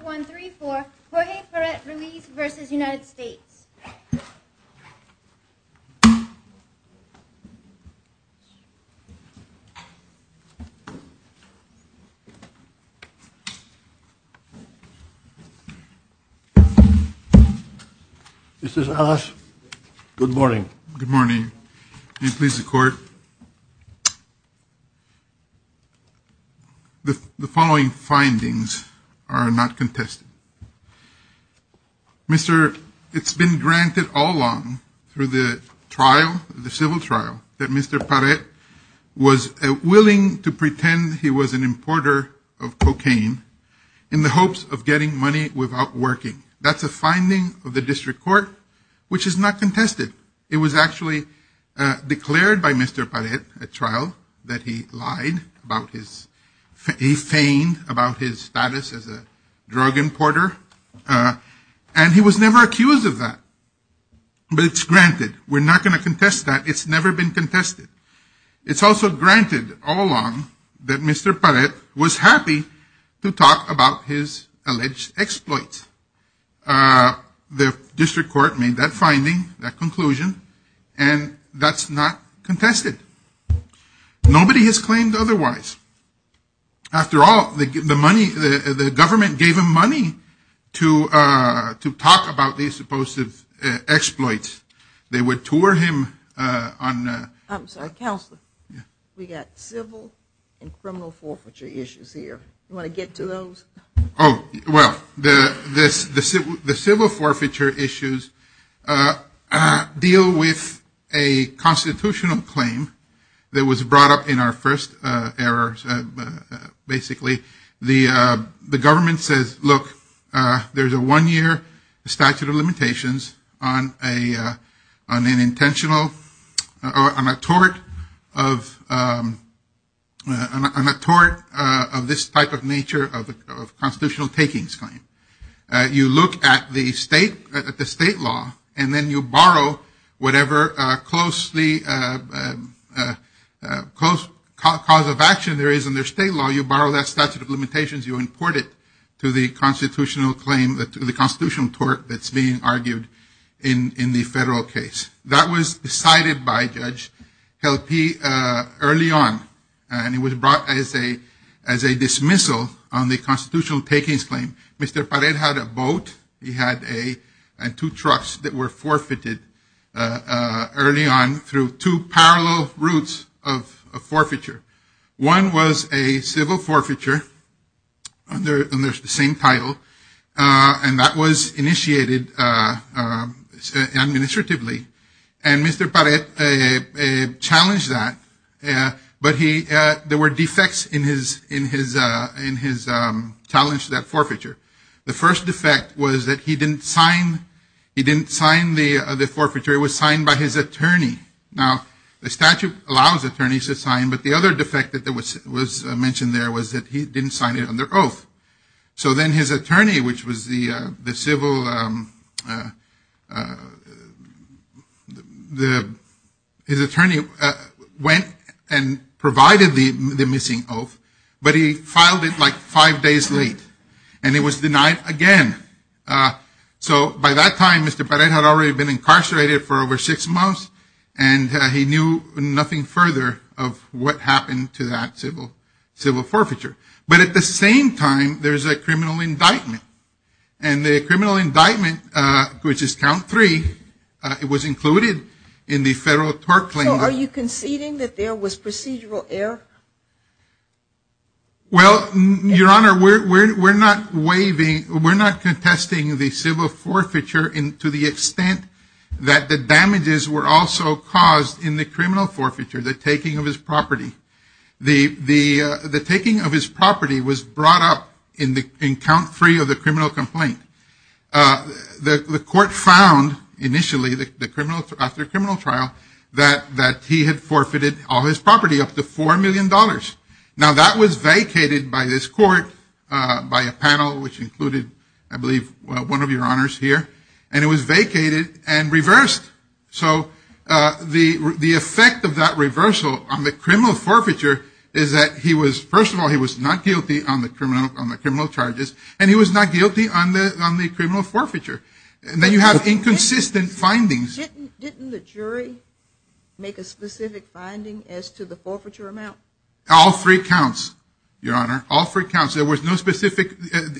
1, 2, 3, 4, Jorge Paret-Ruiz v. United States Mr. Salas, good morning. Good morning. May it please the Court. The following findings are not contested. Mr., it's been granted all along through the trial, the civil trial, that Mr. Paret was willing to pretend he was an importer of cocaine in the hopes of getting money without working. That's a finding of the District Court, which is not contested. It was actually declared by Mr. Paret at trial that he lied about his, he feigned about his status as a drug importer, and he was never accused of that. But it's granted. We're not going to contest that. It's never been contested. It's also granted all along that Mr. Paret was happy to talk about his alleged exploits. The District Court made that finding, that conclusion, and that's not contested. Nobody has claimed otherwise. After all, the money, the government gave him money to talk about these supposed exploits. They would tour him on... I'm sorry, Counselor. Yeah. We got civil and criminal forfeiture issues here. You want to get to those? Oh, well, the civil forfeiture issues deal with a constitutional claim that was brought up in our first error, basically. The government says, look, there's a one-year statute of limitations on an intentional, on a tort of this type of nature of constitutional takings claim. You look at the state law, and then you borrow whatever close cause of action there is in their state law. You borrow that statute of limitations. You import it to the constitutional claim, to the constitutional tort that's being argued in the federal case. That was decided by Judge Helpe early on, and it was brought as a dismissal on the constitutional takings claim. Mr. Pared had a boat. He had two trucks that were forfeited early on through two parallel routes of forfeiture. One was a civil forfeiture under the same title, and that was initiated administratively, and Mr. Pared challenged that. But there were defects in his challenge to that forfeiture. The first defect was that he didn't sign the forfeiture. It was signed by his attorney. Now, the statute allows attorneys to sign, but the other defect that was mentioned there was that he didn't sign it under oath. So then his attorney, which was the civil, his attorney went and provided the missing oath, but he filed it like five days late, and it was denied again. So by that time, Mr. Pared had already been incarcerated for over six months, and he knew nothing further of what happened to that civil forfeiture. But at the same time, there's a criminal indictment, and the criminal indictment, which is count three, it was included in the federal tort claim. So are you conceding that there was procedural error? Well, Your Honor, we're not contesting the civil forfeiture to the extent that the damages were also caused in the criminal forfeiture, the taking of his property. The taking of his property was brought up in count three of the criminal complaint. The court found, initially, after criminal trial, that he had forfeited all his property, up to $4 million. Now, that was vacated by this court by a panel, which included, I believe, one of Your Honors here, and it was vacated and reversed. So the effect of that reversal on the criminal forfeiture is that he was, first of all, he was not guilty on the criminal charges, and he was not guilty on the criminal forfeiture. Then you have inconsistent findings. Didn't the jury make a specific finding as to the forfeiture amount? All three counts, Your Honor, all three counts. There was no specific,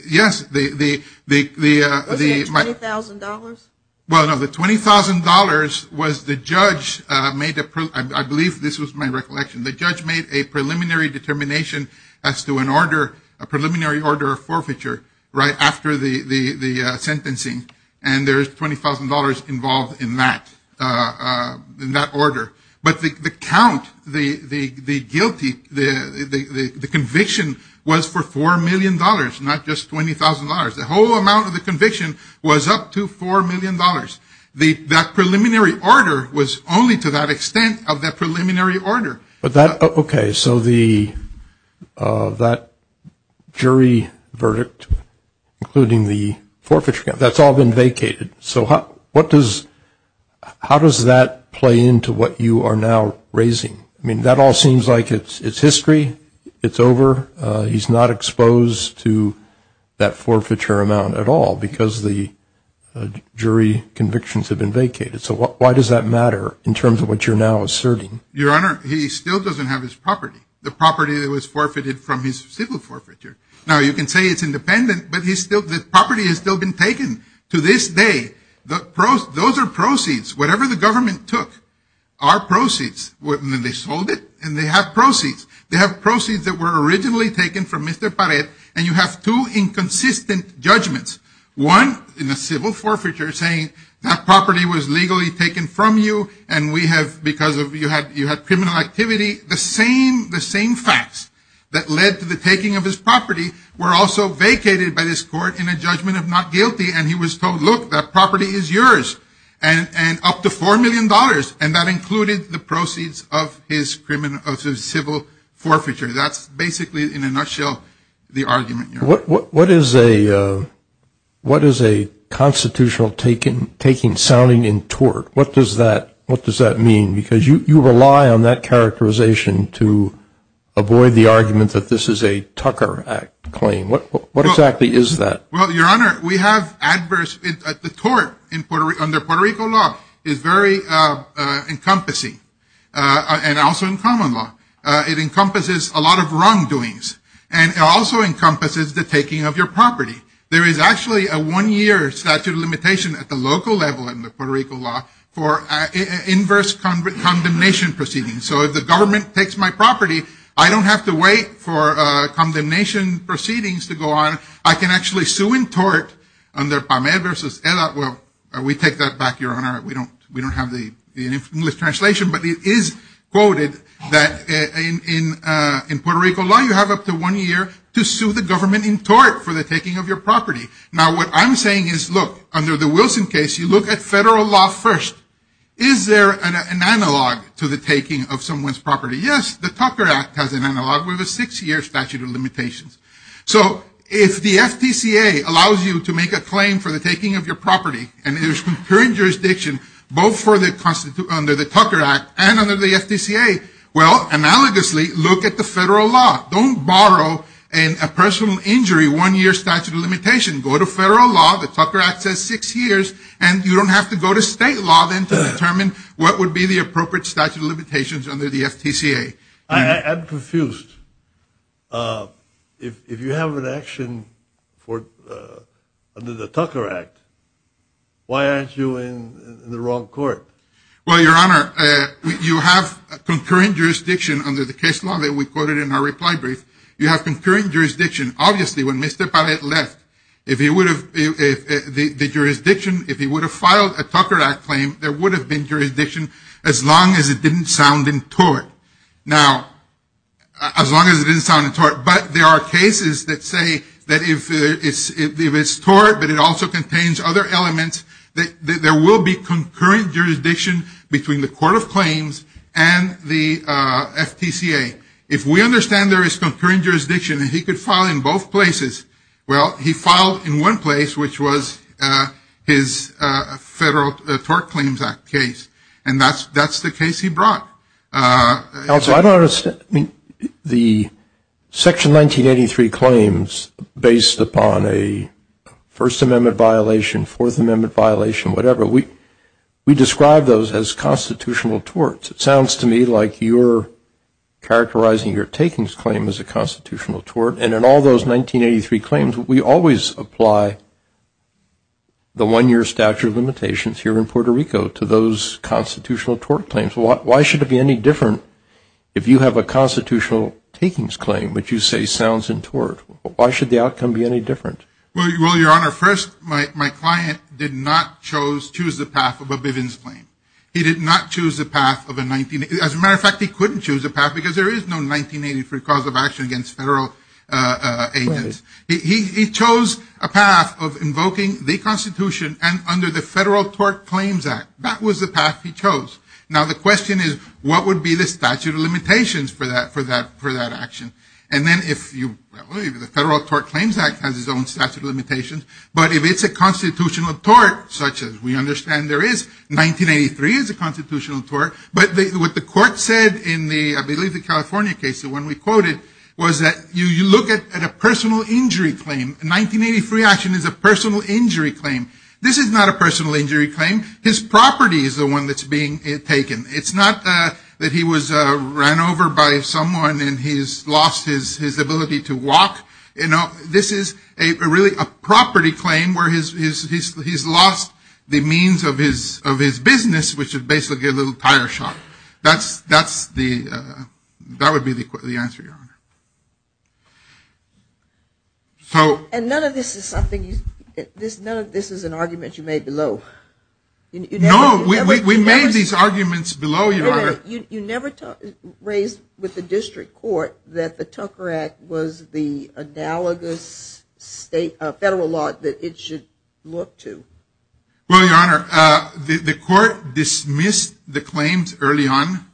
yes, the... Wasn't it $20,000? Well, no, the $20,000 was the judge made a, I believe this was my recollection, the judge made a preliminary determination as to an order, a preliminary order of forfeiture right after the sentencing. And there's $20,000 involved in that, in that order. But the count, the guilty, the conviction was for $4 million, not just $20,000. The whole amount of the conviction was up to $4 million. That preliminary order was only to that extent of that preliminary order. But that, okay, so that jury verdict, including the forfeiture count, that's all been vacated. So what does, how does that play into what you are now raising? I mean, that all seems like it's history. It's over. He's not exposed to that forfeiture amount at all because the jury convictions have been vacated. So why does that matter in terms of what you're now asserting? Your Honor, he still doesn't have his property, the property that was forfeited from his civil forfeiture. Now, you can say it's independent, but he's still, the property has still been taken to this day. Those are proceeds. Whatever the government took are proceeds. They sold it and they have proceeds. They have proceeds that were originally taken from Mr. Pared, and you have two inconsistent judgments. One, in a civil forfeiture, saying that property was legally taken from you and we have, because you had criminal activity. The same facts that led to the taking of his property were also vacated by this court in a judgment of not guilty, and he was told, look, that property is yours, and up to $4 million. And that included the proceeds of his civil forfeiture. That's basically, in a nutshell, the argument, Your Honor. What is a constitutional taking sounding in tort? What does that mean? Because you rely on that characterization to avoid the argument that this is a Tucker Act claim. What exactly is that? Well, Your Honor, we have adverse, the tort under Puerto Rico law is very encompassing, and also in common law. It encompasses a lot of wrongdoings, and it also encompasses the taking of your property. There is actually a one-year statute of limitation at the local level in the Puerto Rico law for inverse condemnation proceedings. So if the government takes my property, I don't have to wait for condemnation proceedings to go on. I can actually sue in tort under Pamed versus ELA. Well, we take that back, Your Honor. We don't have the English translation, but it is quoted that in Puerto Rico law, you have up to one year to sue the government in tort for the taking of your property. Now, what I'm saying is, look, under the Wilson case, you look at federal law first. Is there an analog to the taking of someone's property? Yes, the Tucker Act has an analog with a six-year statute of limitations. So if the FTCA allows you to make a claim for the taking of your property, and there's concurring jurisdiction both under the Tucker Act and under the FTCA, well, analogously, look at the federal law. Don't borrow a personal injury one-year statute of limitation. Go to federal law. The Tucker Act says six years, and you don't have to go to state law then to determine what would be the appropriate statute of limitations under the FTCA. I'm confused. If you have an action under the Tucker Act, why aren't you in the wrong court? Well, Your Honor, you have concurring jurisdiction under the case law that we quoted in our reply brief. You have concurring jurisdiction. Obviously, when Mr. Pallet left, if he would have filed a Tucker Act claim, there would have been jurisdiction as long as it didn't sound in tort. Now, as long as it didn't sound in tort, but there are cases that say that if it's tort, but it also contains other elements, that there will be concurring jurisdiction between the court of claims and the FTCA. If we understand there is concurring jurisdiction and he could file in both places, well, he filed in one place, which was his Federal Tort Claims Act case, and that's the case he brought. Counsel, I don't understand. I mean, the Section 1983 claims, based upon a First Amendment violation, Fourth Amendment violation, whatever, we describe those as constitutional torts. It sounds to me like you're characterizing your takings claim as a constitutional tort, and in all those 1983 claims, we always apply the one-year statute of limitations here in Puerto Rico to those constitutional tort claims. Why should it be any different if you have a constitutional takings claim, but you say sounds in tort? Why should the outcome be any different? Well, Your Honor, first, my client did not choose the path of a Bivens claim. He did not choose the path of a 1983. As a matter of fact, he couldn't choose a path because there is no 1983 cause of action against federal agents. He chose a path of invoking the Constitution and under the Federal Tort Claims Act. That was the path he chose. Now, the question is, what would be the statute of limitations for that action? And then if you, well, the Federal Tort Claims Act has its own statute of limitations, but if it's a constitutional tort, such as we understand there is, 1983 is a constitutional tort, but what the court said in the, I believe, the California case, the one we quoted, was that you look at a personal injury claim. A 1983 action is a personal injury claim. This is not a personal injury claim. His property is the one that's being taken. It's not that he was ran over by someone and he's lost his ability to walk. You know, this is really a property claim where he's lost the means of his business, which is basically a little tire shop. That's the, that would be the answer, Your Honor. And none of this is something, none of this is an argument you made below. No, we made these arguments below, Your Honor. You never raised with the district court that the Tucker Act was the analogous federal law that it should look to. Well, Your Honor, the court dismissed the claims early on.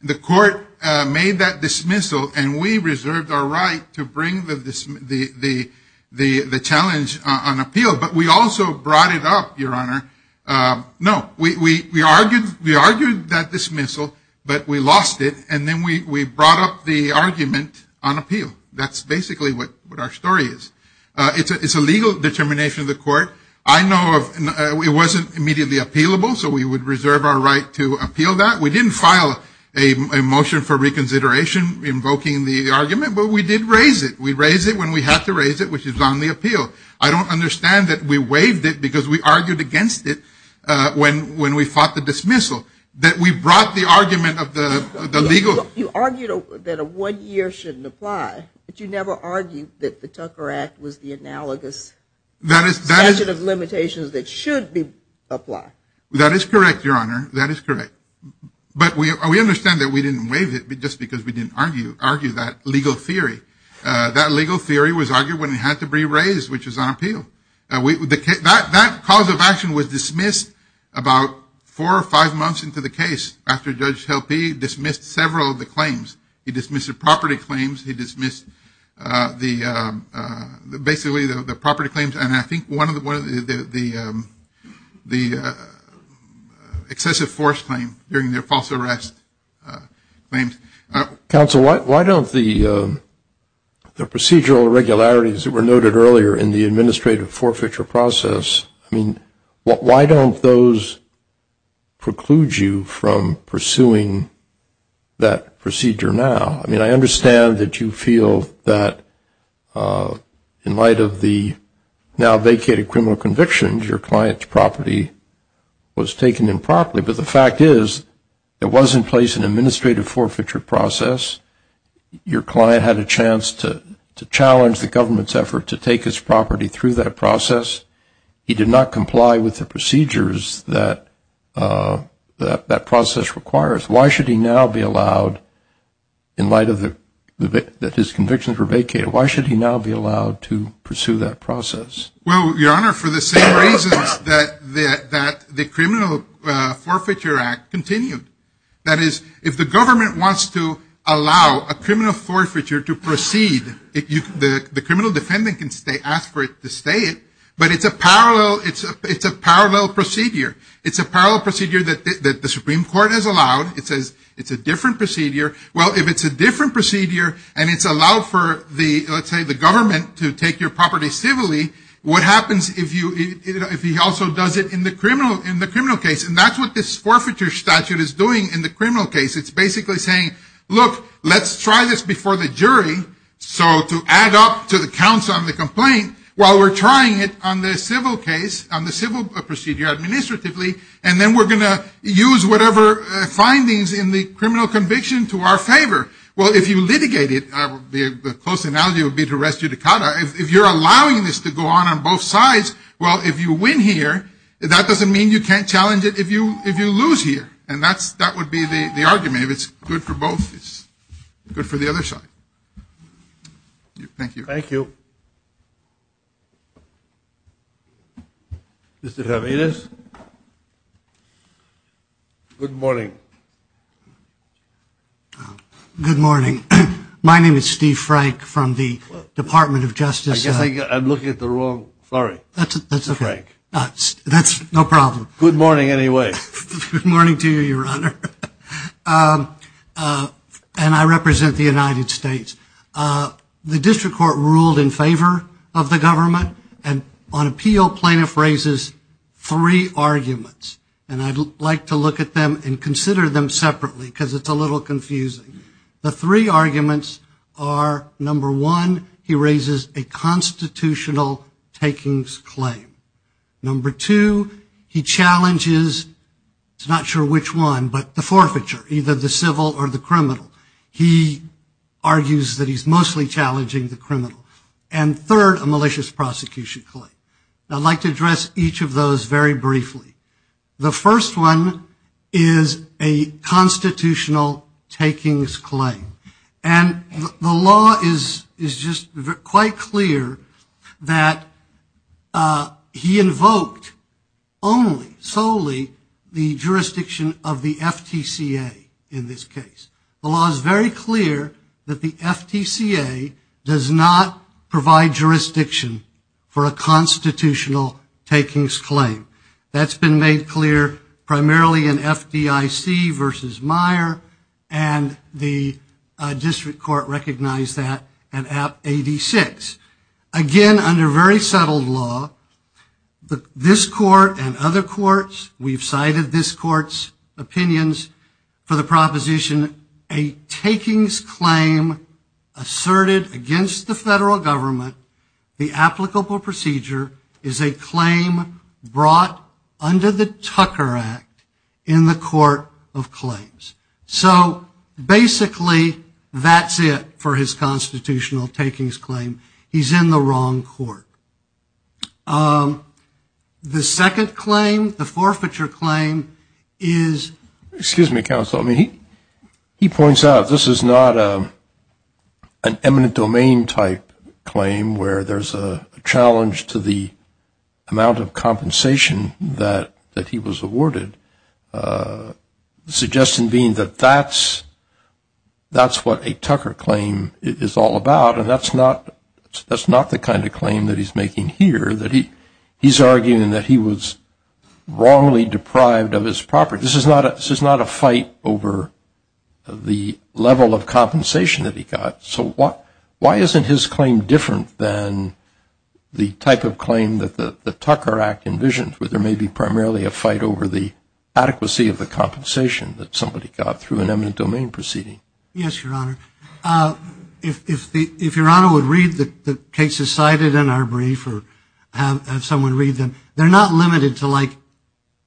The court made that dismissal, and we reserved our right to bring the challenge on appeal, but we also brought it up, Your Honor. No, we argued that dismissal, but we lost it, and then we brought up the argument on appeal. That's basically what our story is. It's a legal determination of the court. I know it wasn't immediately appealable, so we would reserve our right to appeal that. We didn't file a motion for reconsideration invoking the argument, but we did raise it. We raised it when we had to raise it, which is on the appeal. I don't understand that we waived it because we argued against it when we fought the dismissal, that we brought the argument of the legal. You argued that a one-year shouldn't apply, but you never argued that the Tucker Act was the analogous statute of limitations that should apply. That is correct, Your Honor. That is correct. But we understand that we didn't waive it just because we didn't argue that legal theory. That legal theory was argued when it had to be raised, which is on appeal. That cause of action was dismissed about four or five months into the case after Judge Helpe dismissed several of the claims. He dismissed the property claims. He dismissed basically the property claims and I think one of the excessive force claims during their false arrest claims. Counsel, why don't the procedural irregularities that were noted earlier in the administrative forfeiture process, I mean, why don't those preclude you from pursuing that procedure now? I mean, I understand that you feel that in light of the now vacated criminal convictions, your client's property was taken improperly, but the fact is there was in place an administrative forfeiture process. Your client had a chance to challenge the government's effort to take his property through that process. He did not comply with the procedures that that process requires. Why should he now be allowed, in light that his convictions were vacated, why should he now be allowed to pursue that process? Well, Your Honor, for the same reasons that the Criminal Forfeiture Act continued. That is, if the government wants to allow a criminal forfeiture to proceed, the criminal defendant can ask for it to stay, but it's a parallel procedure. It's a parallel procedure that the Supreme Court has allowed. It says it's a different procedure. Well, if it's a different procedure, and it's allowed for, let's say, the government to take your property civilly, what happens if he also does it in the criminal case? And that's what this forfeiture statute is doing in the criminal case. It's basically saying, look, let's try this before the jury, so to add up to the counts on the complaint, while we're trying it on the civil case, on the civil procedure administratively, and then we're going to use whatever findings in the criminal conviction to our favor. Well, if you litigate it, the close analogy would be to rest your decada. If you're allowing this to go on on both sides, well, if you win here, that doesn't mean you can't challenge it if you lose here, and that would be the argument. If it's good for both, it's good for the other side. Thank you. Thank you. Thank you. Mr. Jimenez? Good morning. Good morning. My name is Steve Frank from the Department of Justice. I guess I'm looking at the wrong flurry. That's okay. That's no problem. Good morning, anyway. Good morning to you, Your Honor. And I represent the United States. The district court ruled in favor of the government, and on appeal plaintiff raises three arguments, and I'd like to look at them and consider them separately because it's a little confusing. The three arguments are, number one, he raises a constitutional takings claim. Number two, he challenges, I'm not sure which one, but the forfeiture, either the civil or the criminal. He argues that he's mostly challenging the criminal. And third, a malicious prosecution claim. I'd like to address each of those very briefly. The first one is a constitutional takings claim, and the law is just quite clear that he invoked only, solely, the jurisdiction of the FTCA in this case. The law is very clear that the FTCA does not provide jurisdiction for a constitutional takings claim. That's been made clear primarily in FDIC versus Meyer, and the district court recognized that in AB 86. Again, under very settled law, this court and other courts, we've cited this court's opinions for the proposition, a takings claim asserted against the federal government, the applicable procedure is a claim brought under the Tucker Act in the Court of Claims. So basically that's it for his constitutional takings claim. He's in the wrong court. The second claim, the forfeiture claim, is ‑‑ Excuse me, counsel. He points out this is not an eminent domain type claim where there's a challenge to the amount of compensation that he was awarded, suggesting being that that's what a Tucker claim is all about, and that's not the kind of claim that he's making here, that he's arguing that he was wrongly deprived of his property. This is not a fight over the level of compensation that he got. So why isn't his claim different than the type of claim that the Tucker Act envisions where there may be primarily a fight over the adequacy of the compensation that somebody got through an eminent domain proceeding? Yes, Your Honor. If Your Honor would read the cases cited in our brief or have someone read them, they're not limited to like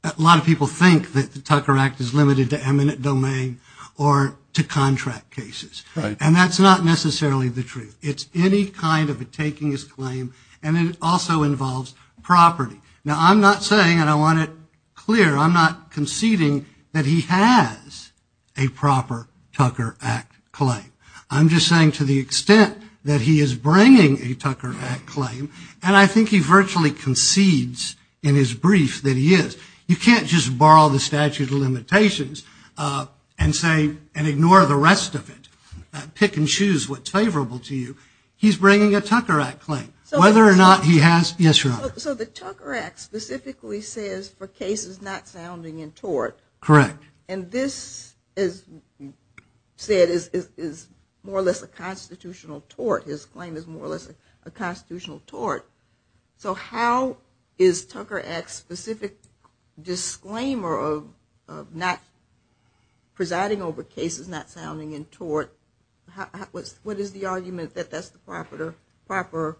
a lot of people think that the Tucker Act is limited to eminent domain or to contract cases. And that's not necessarily the truth. It's any kind of a takings claim, and it also involves property. Now, I'm not saying, and I want it clear, I'm not conceding that he has a proper Tucker Act claim. I'm just saying to the extent that he is bringing a Tucker Act claim, and I think he virtually concedes in his brief that he is. You can't just borrow the statute of limitations and ignore the rest of it, pick and choose what's favorable to you. He's bringing a Tucker Act claim, whether or not he has. Yes, Your Honor. So the Tucker Act specifically says for cases not sounding in tort. Correct. And this, as you said, is more or less a constitutional tort. His claim is more or less a constitutional tort. So how is Tucker Act's specific disclaimer of not presiding over cases not sounding in tort, what is the argument that that's the proper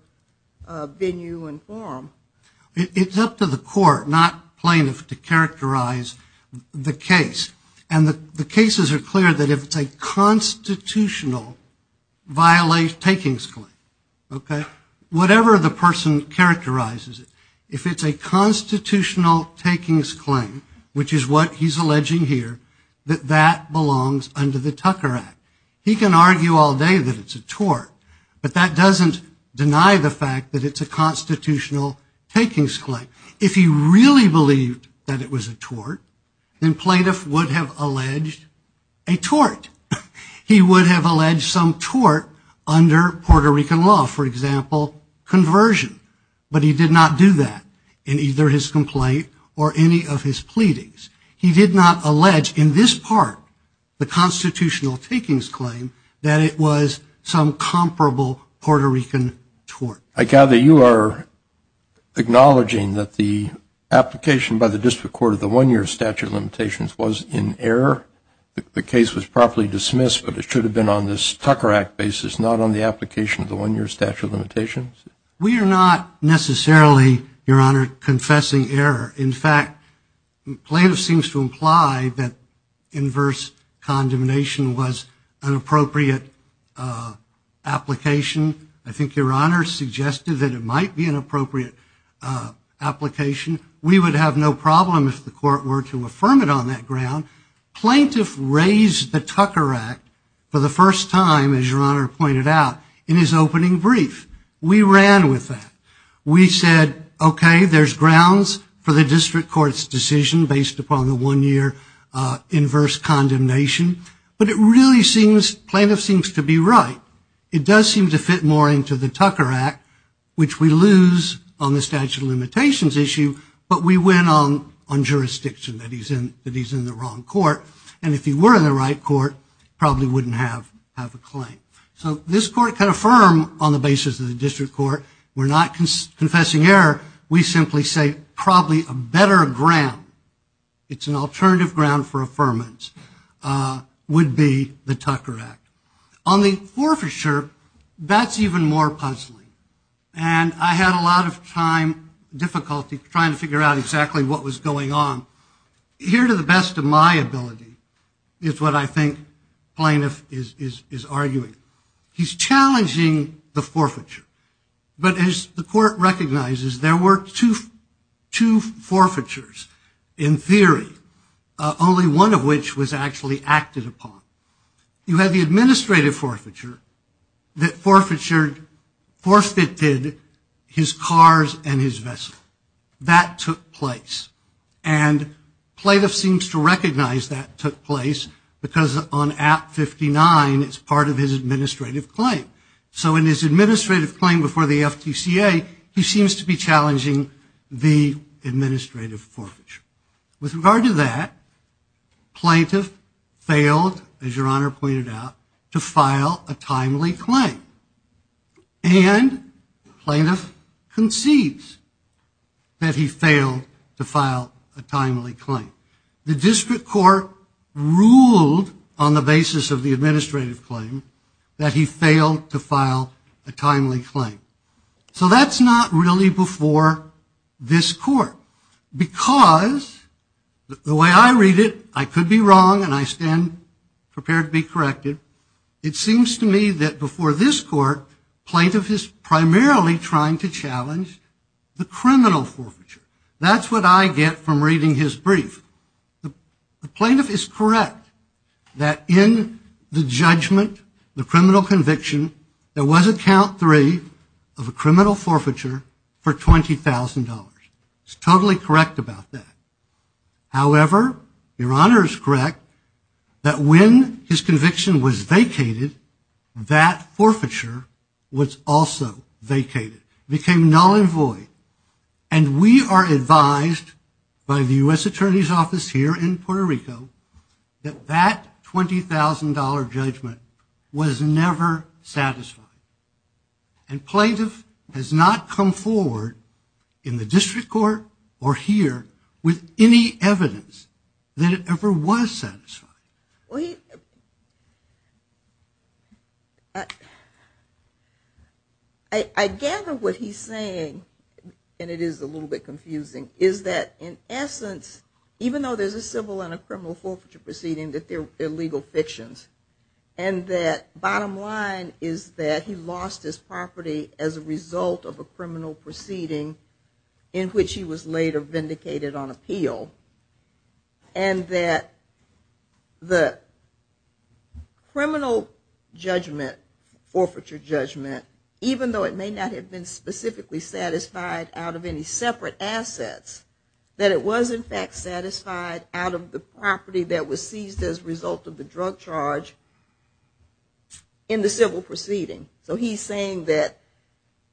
venue to inform? It's up to the court, not plaintiff, to characterize the case. And the cases are clear that if it's a constitutional takings claim, okay, whatever the person characterizes it, if it's a constitutional takings claim, which is what he's alleging here, that that belongs under the Tucker Act. He can argue all day that it's a tort, but that doesn't deny the fact that it's a constitutional takings claim. If he really believed that it was a tort, then plaintiff would have alleged a tort. He would have alleged some tort under Puerto Rican law, for example, conversion, but he did not do that in either his complaint or any of his pleadings. He did not allege in this part, the constitutional takings claim, that it was some comparable Puerto Rican tort. I gather you are acknowledging that the application by the district court of the one-year statute of limitations was in error. The case was properly dismissed, but it should have been on this Tucker Act basis, not on the application of the one-year statute of limitations. We are not necessarily, Your Honor, confessing error. In fact, plaintiff seems to imply that inverse condemnation was an appropriate application. I think Your Honor suggested that it might be an appropriate application. We would have no problem if the court were to affirm it on that ground. Plaintiff raised the Tucker Act for the first time, as Your Honor pointed out, in his opening brief. We ran with that. We said, okay, there's grounds for the district court's decision based upon the one-year inverse condemnation. But it really seems, plaintiff seems to be right. It does seem to fit more into the Tucker Act, which we lose on the statute of limitations issue, but we win on jurisdiction that he's in the wrong court. And if he were in the right court, probably wouldn't have a claim. So this court can affirm on the basis of the district court. We're not confessing error. We simply say probably a better ground, it's an alternative ground for affirmance, would be the Tucker Act. On the forfeiture, that's even more puzzling. And I had a lot of time difficulty trying to figure out exactly what was going on. Here to the best of my ability is what I think plaintiff is arguing. He's challenging the forfeiture. But as the court recognizes, there were two forfeitures in theory, only one of which was actually acted upon. You had the administrative forfeiture that forfeited his cars and his vessel. That took place. And plaintiff seems to recognize that took place because on Act 59, it's part of his administrative claim. So in his administrative claim before the FTCA, he seems to be challenging the administrative forfeiture. With regard to that, plaintiff failed, as your honor pointed out, to file a timely claim. And plaintiff concedes that he failed to file a timely claim. The district court ruled on the basis of the administrative claim that he failed to file a timely claim. So that's not really before this court. Because the way I read it, I could be wrong, and I stand prepared to be corrected. It seems to me that before this court, plaintiff is primarily trying to challenge the criminal forfeiture. That's what I get from reading his brief. The plaintiff is correct that in the judgment, the criminal conviction, there was a count three of a criminal forfeiture for $20,000. He's totally correct about that. However, your honor is correct that when his conviction was vacated, that forfeiture was also vacated. It became null and void. And we are advised by the U.S. Attorney's Office here in Puerto Rico, that that $20,000 judgment was never satisfied. And plaintiff has not come forward in the district court or here with any evidence that it ever was satisfied. I gather what he's saying, and it is a little bit confusing, is that in essence, even though there's a civil and a criminal forfeiture proceeding, that they're legal fictions. And that bottom line is that he lost his property as a result of a criminal proceeding in which he was later vindicated on appeal. And that the criminal judgment, forfeiture judgment, even though it may not have been specifically satisfied out of any separate assets, that it was in fact satisfied out of the property that was seized as a result of the drug charge in the civil proceeding. So he's saying that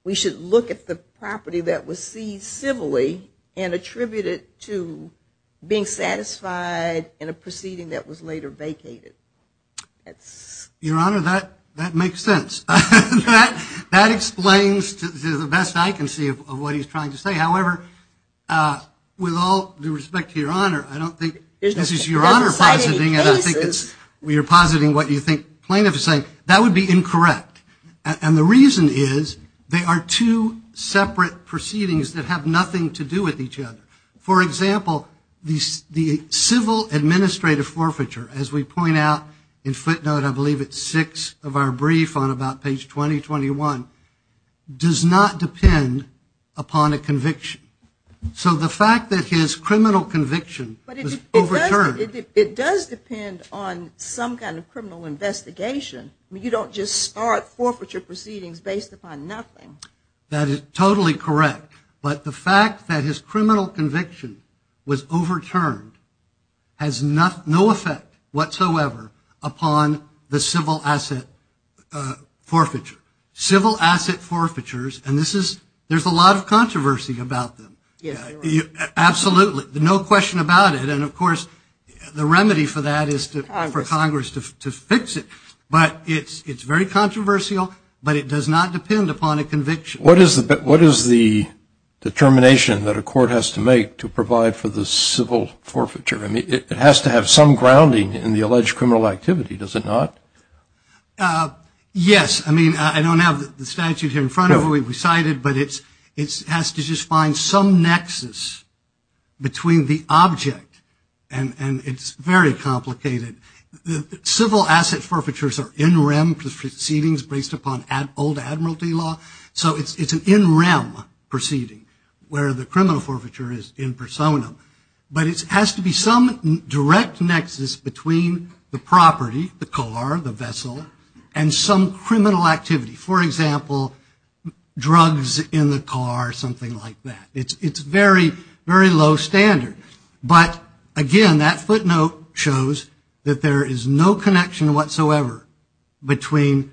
we should look at the property that was seized civilly and attribute it to being satisfied in a proceeding that was later vacated. That's... Your Honor, that makes sense. That explains to the best I can see of what he's trying to say. However, with all due respect to Your Honor, I don't think this is Your Honor positing, and I think it's you're positing what you think plaintiff is saying, that would be incorrect. And the reason is they are two separate proceedings that have nothing to do with each other. For example, the civil administrative forfeiture, as we point out in footnote, I believe it's six of our brief on about page 20-21, does not depend upon a conviction. So the fact that his criminal conviction was overturned... But it does depend on some kind of criminal investigation. You don't just start forfeiture proceedings based upon nothing. That is totally correct. But the fact that his criminal conviction was overturned has no effect whatsoever upon the civil asset forfeiture. Civil asset forfeitures, and there's a lot of controversy about them. Yes, Your Honor. Absolutely. No question about it. And, of course, the remedy for that is for Congress to fix it. But it's very controversial, but it does not depend upon a conviction. What is the determination that a court has to make to provide for the civil forfeiture? I mean, it has to have some grounding in the alleged criminal activity, does it not? Yes. I mean, I don't have the statute here in front of me recited, but it has to just find some nexus between the object. And it's very complicated. Civil asset forfeitures are in rem proceedings based upon old admiralty law. So it's an in rem proceeding where the criminal forfeiture is in persona. But it has to be some direct nexus between the property, the car, the vessel, and some criminal activity. For example, drugs in the car, something like that. It's very, very low standard. But, again, that footnote shows that there is no connection whatsoever between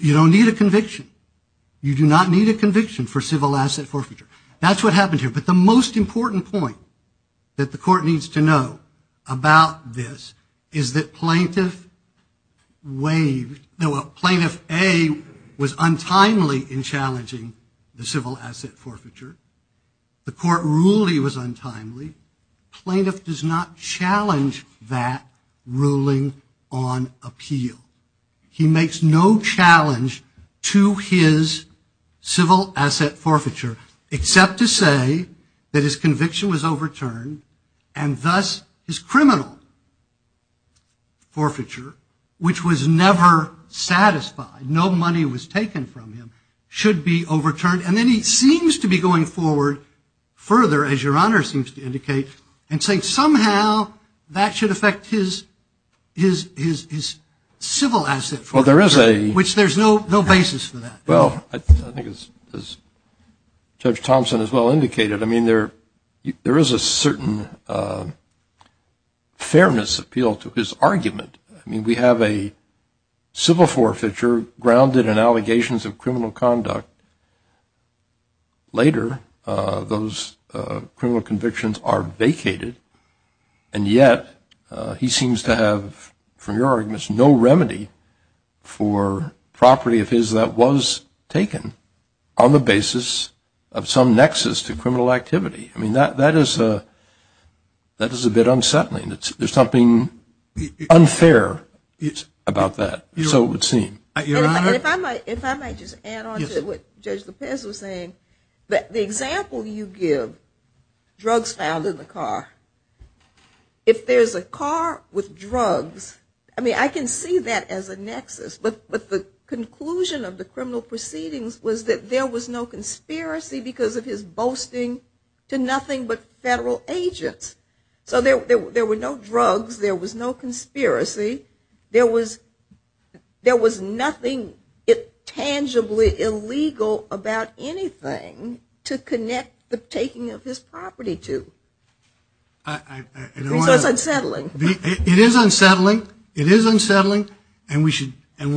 you don't need a conviction. You do not need a conviction for civil asset forfeiture. That's what happened here. But the most important point that the court needs to know about this is that Plaintiff A was untimely in challenging the civil asset forfeiture. The court ruled he was untimely. Plaintiff does not challenge that ruling on appeal. He makes no challenge to his civil asset forfeiture, except to say that his conviction was overturned. And, thus, his criminal forfeiture, which was never satisfied, no money was taken from him, should be overturned. And then he seems to be going forward further, as Your Honor seems to indicate, and saying somehow that should affect his civil asset forfeiture, which there's no basis for that. Well, I think as Judge Thompson as well indicated, I mean there is a certain fairness appeal to his argument. I mean we have a civil forfeiture grounded in allegations of criminal conduct. Later, those criminal convictions are vacated. And yet he seems to have, from your arguments, no remedy for property of his that was taken on the basis of some nexus to criminal activity. I mean that is a bit unsettling. There's something unfair about that, so it would seem. And if I might just add on to what Judge Lopez was saying, the example you give, drugs found in the car, if there's a car with drugs, I mean I can see that as a nexus, but the conclusion of the criminal proceedings was that there was no conspiracy because of his boasting to nothing but federal agents. So there were no drugs. There was no conspiracy. There was nothing tangibly illegal about anything to connect the taking of his property to. So it's unsettling. It is unsettling. It is unsettling, and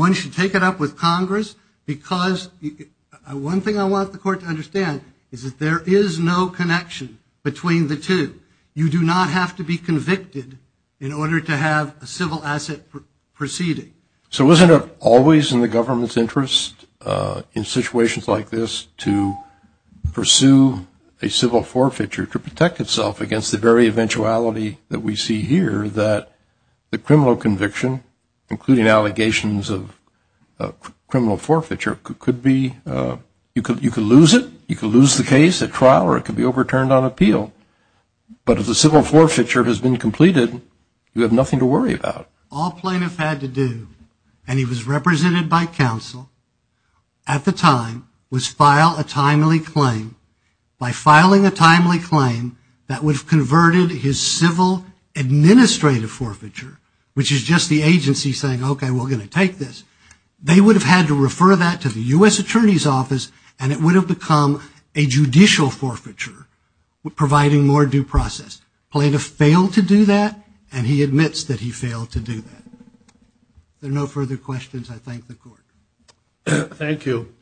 one should take it up with Congress because one thing I want the court to understand is that there is no connection between the two. You do not have to be convicted in order to have a civil asset proceeding. So wasn't it always in the government's interest in situations like this to pursue a civil forfeiture to protect itself against the very eventuality that we see here that the criminal conviction, including allegations of criminal forfeiture, could be, you could lose it. You could lose the case at trial or it could be overturned on appeal. But if the civil forfeiture has been completed, you have nothing to worry about. All plaintiffs had to do, and he was represented by counsel at the time, was file a timely claim. By filing a timely claim, that would have converted his civil administrative forfeiture, which is just the agency saying, okay, we're going to take this. They would have had to refer that to the U.S. Attorney's Office, and it would have become a judicial forfeiture, providing more due process. Plaintiff failed to do that, and he admits that he failed to do that. If there are no further questions, I thank the court. Thank you.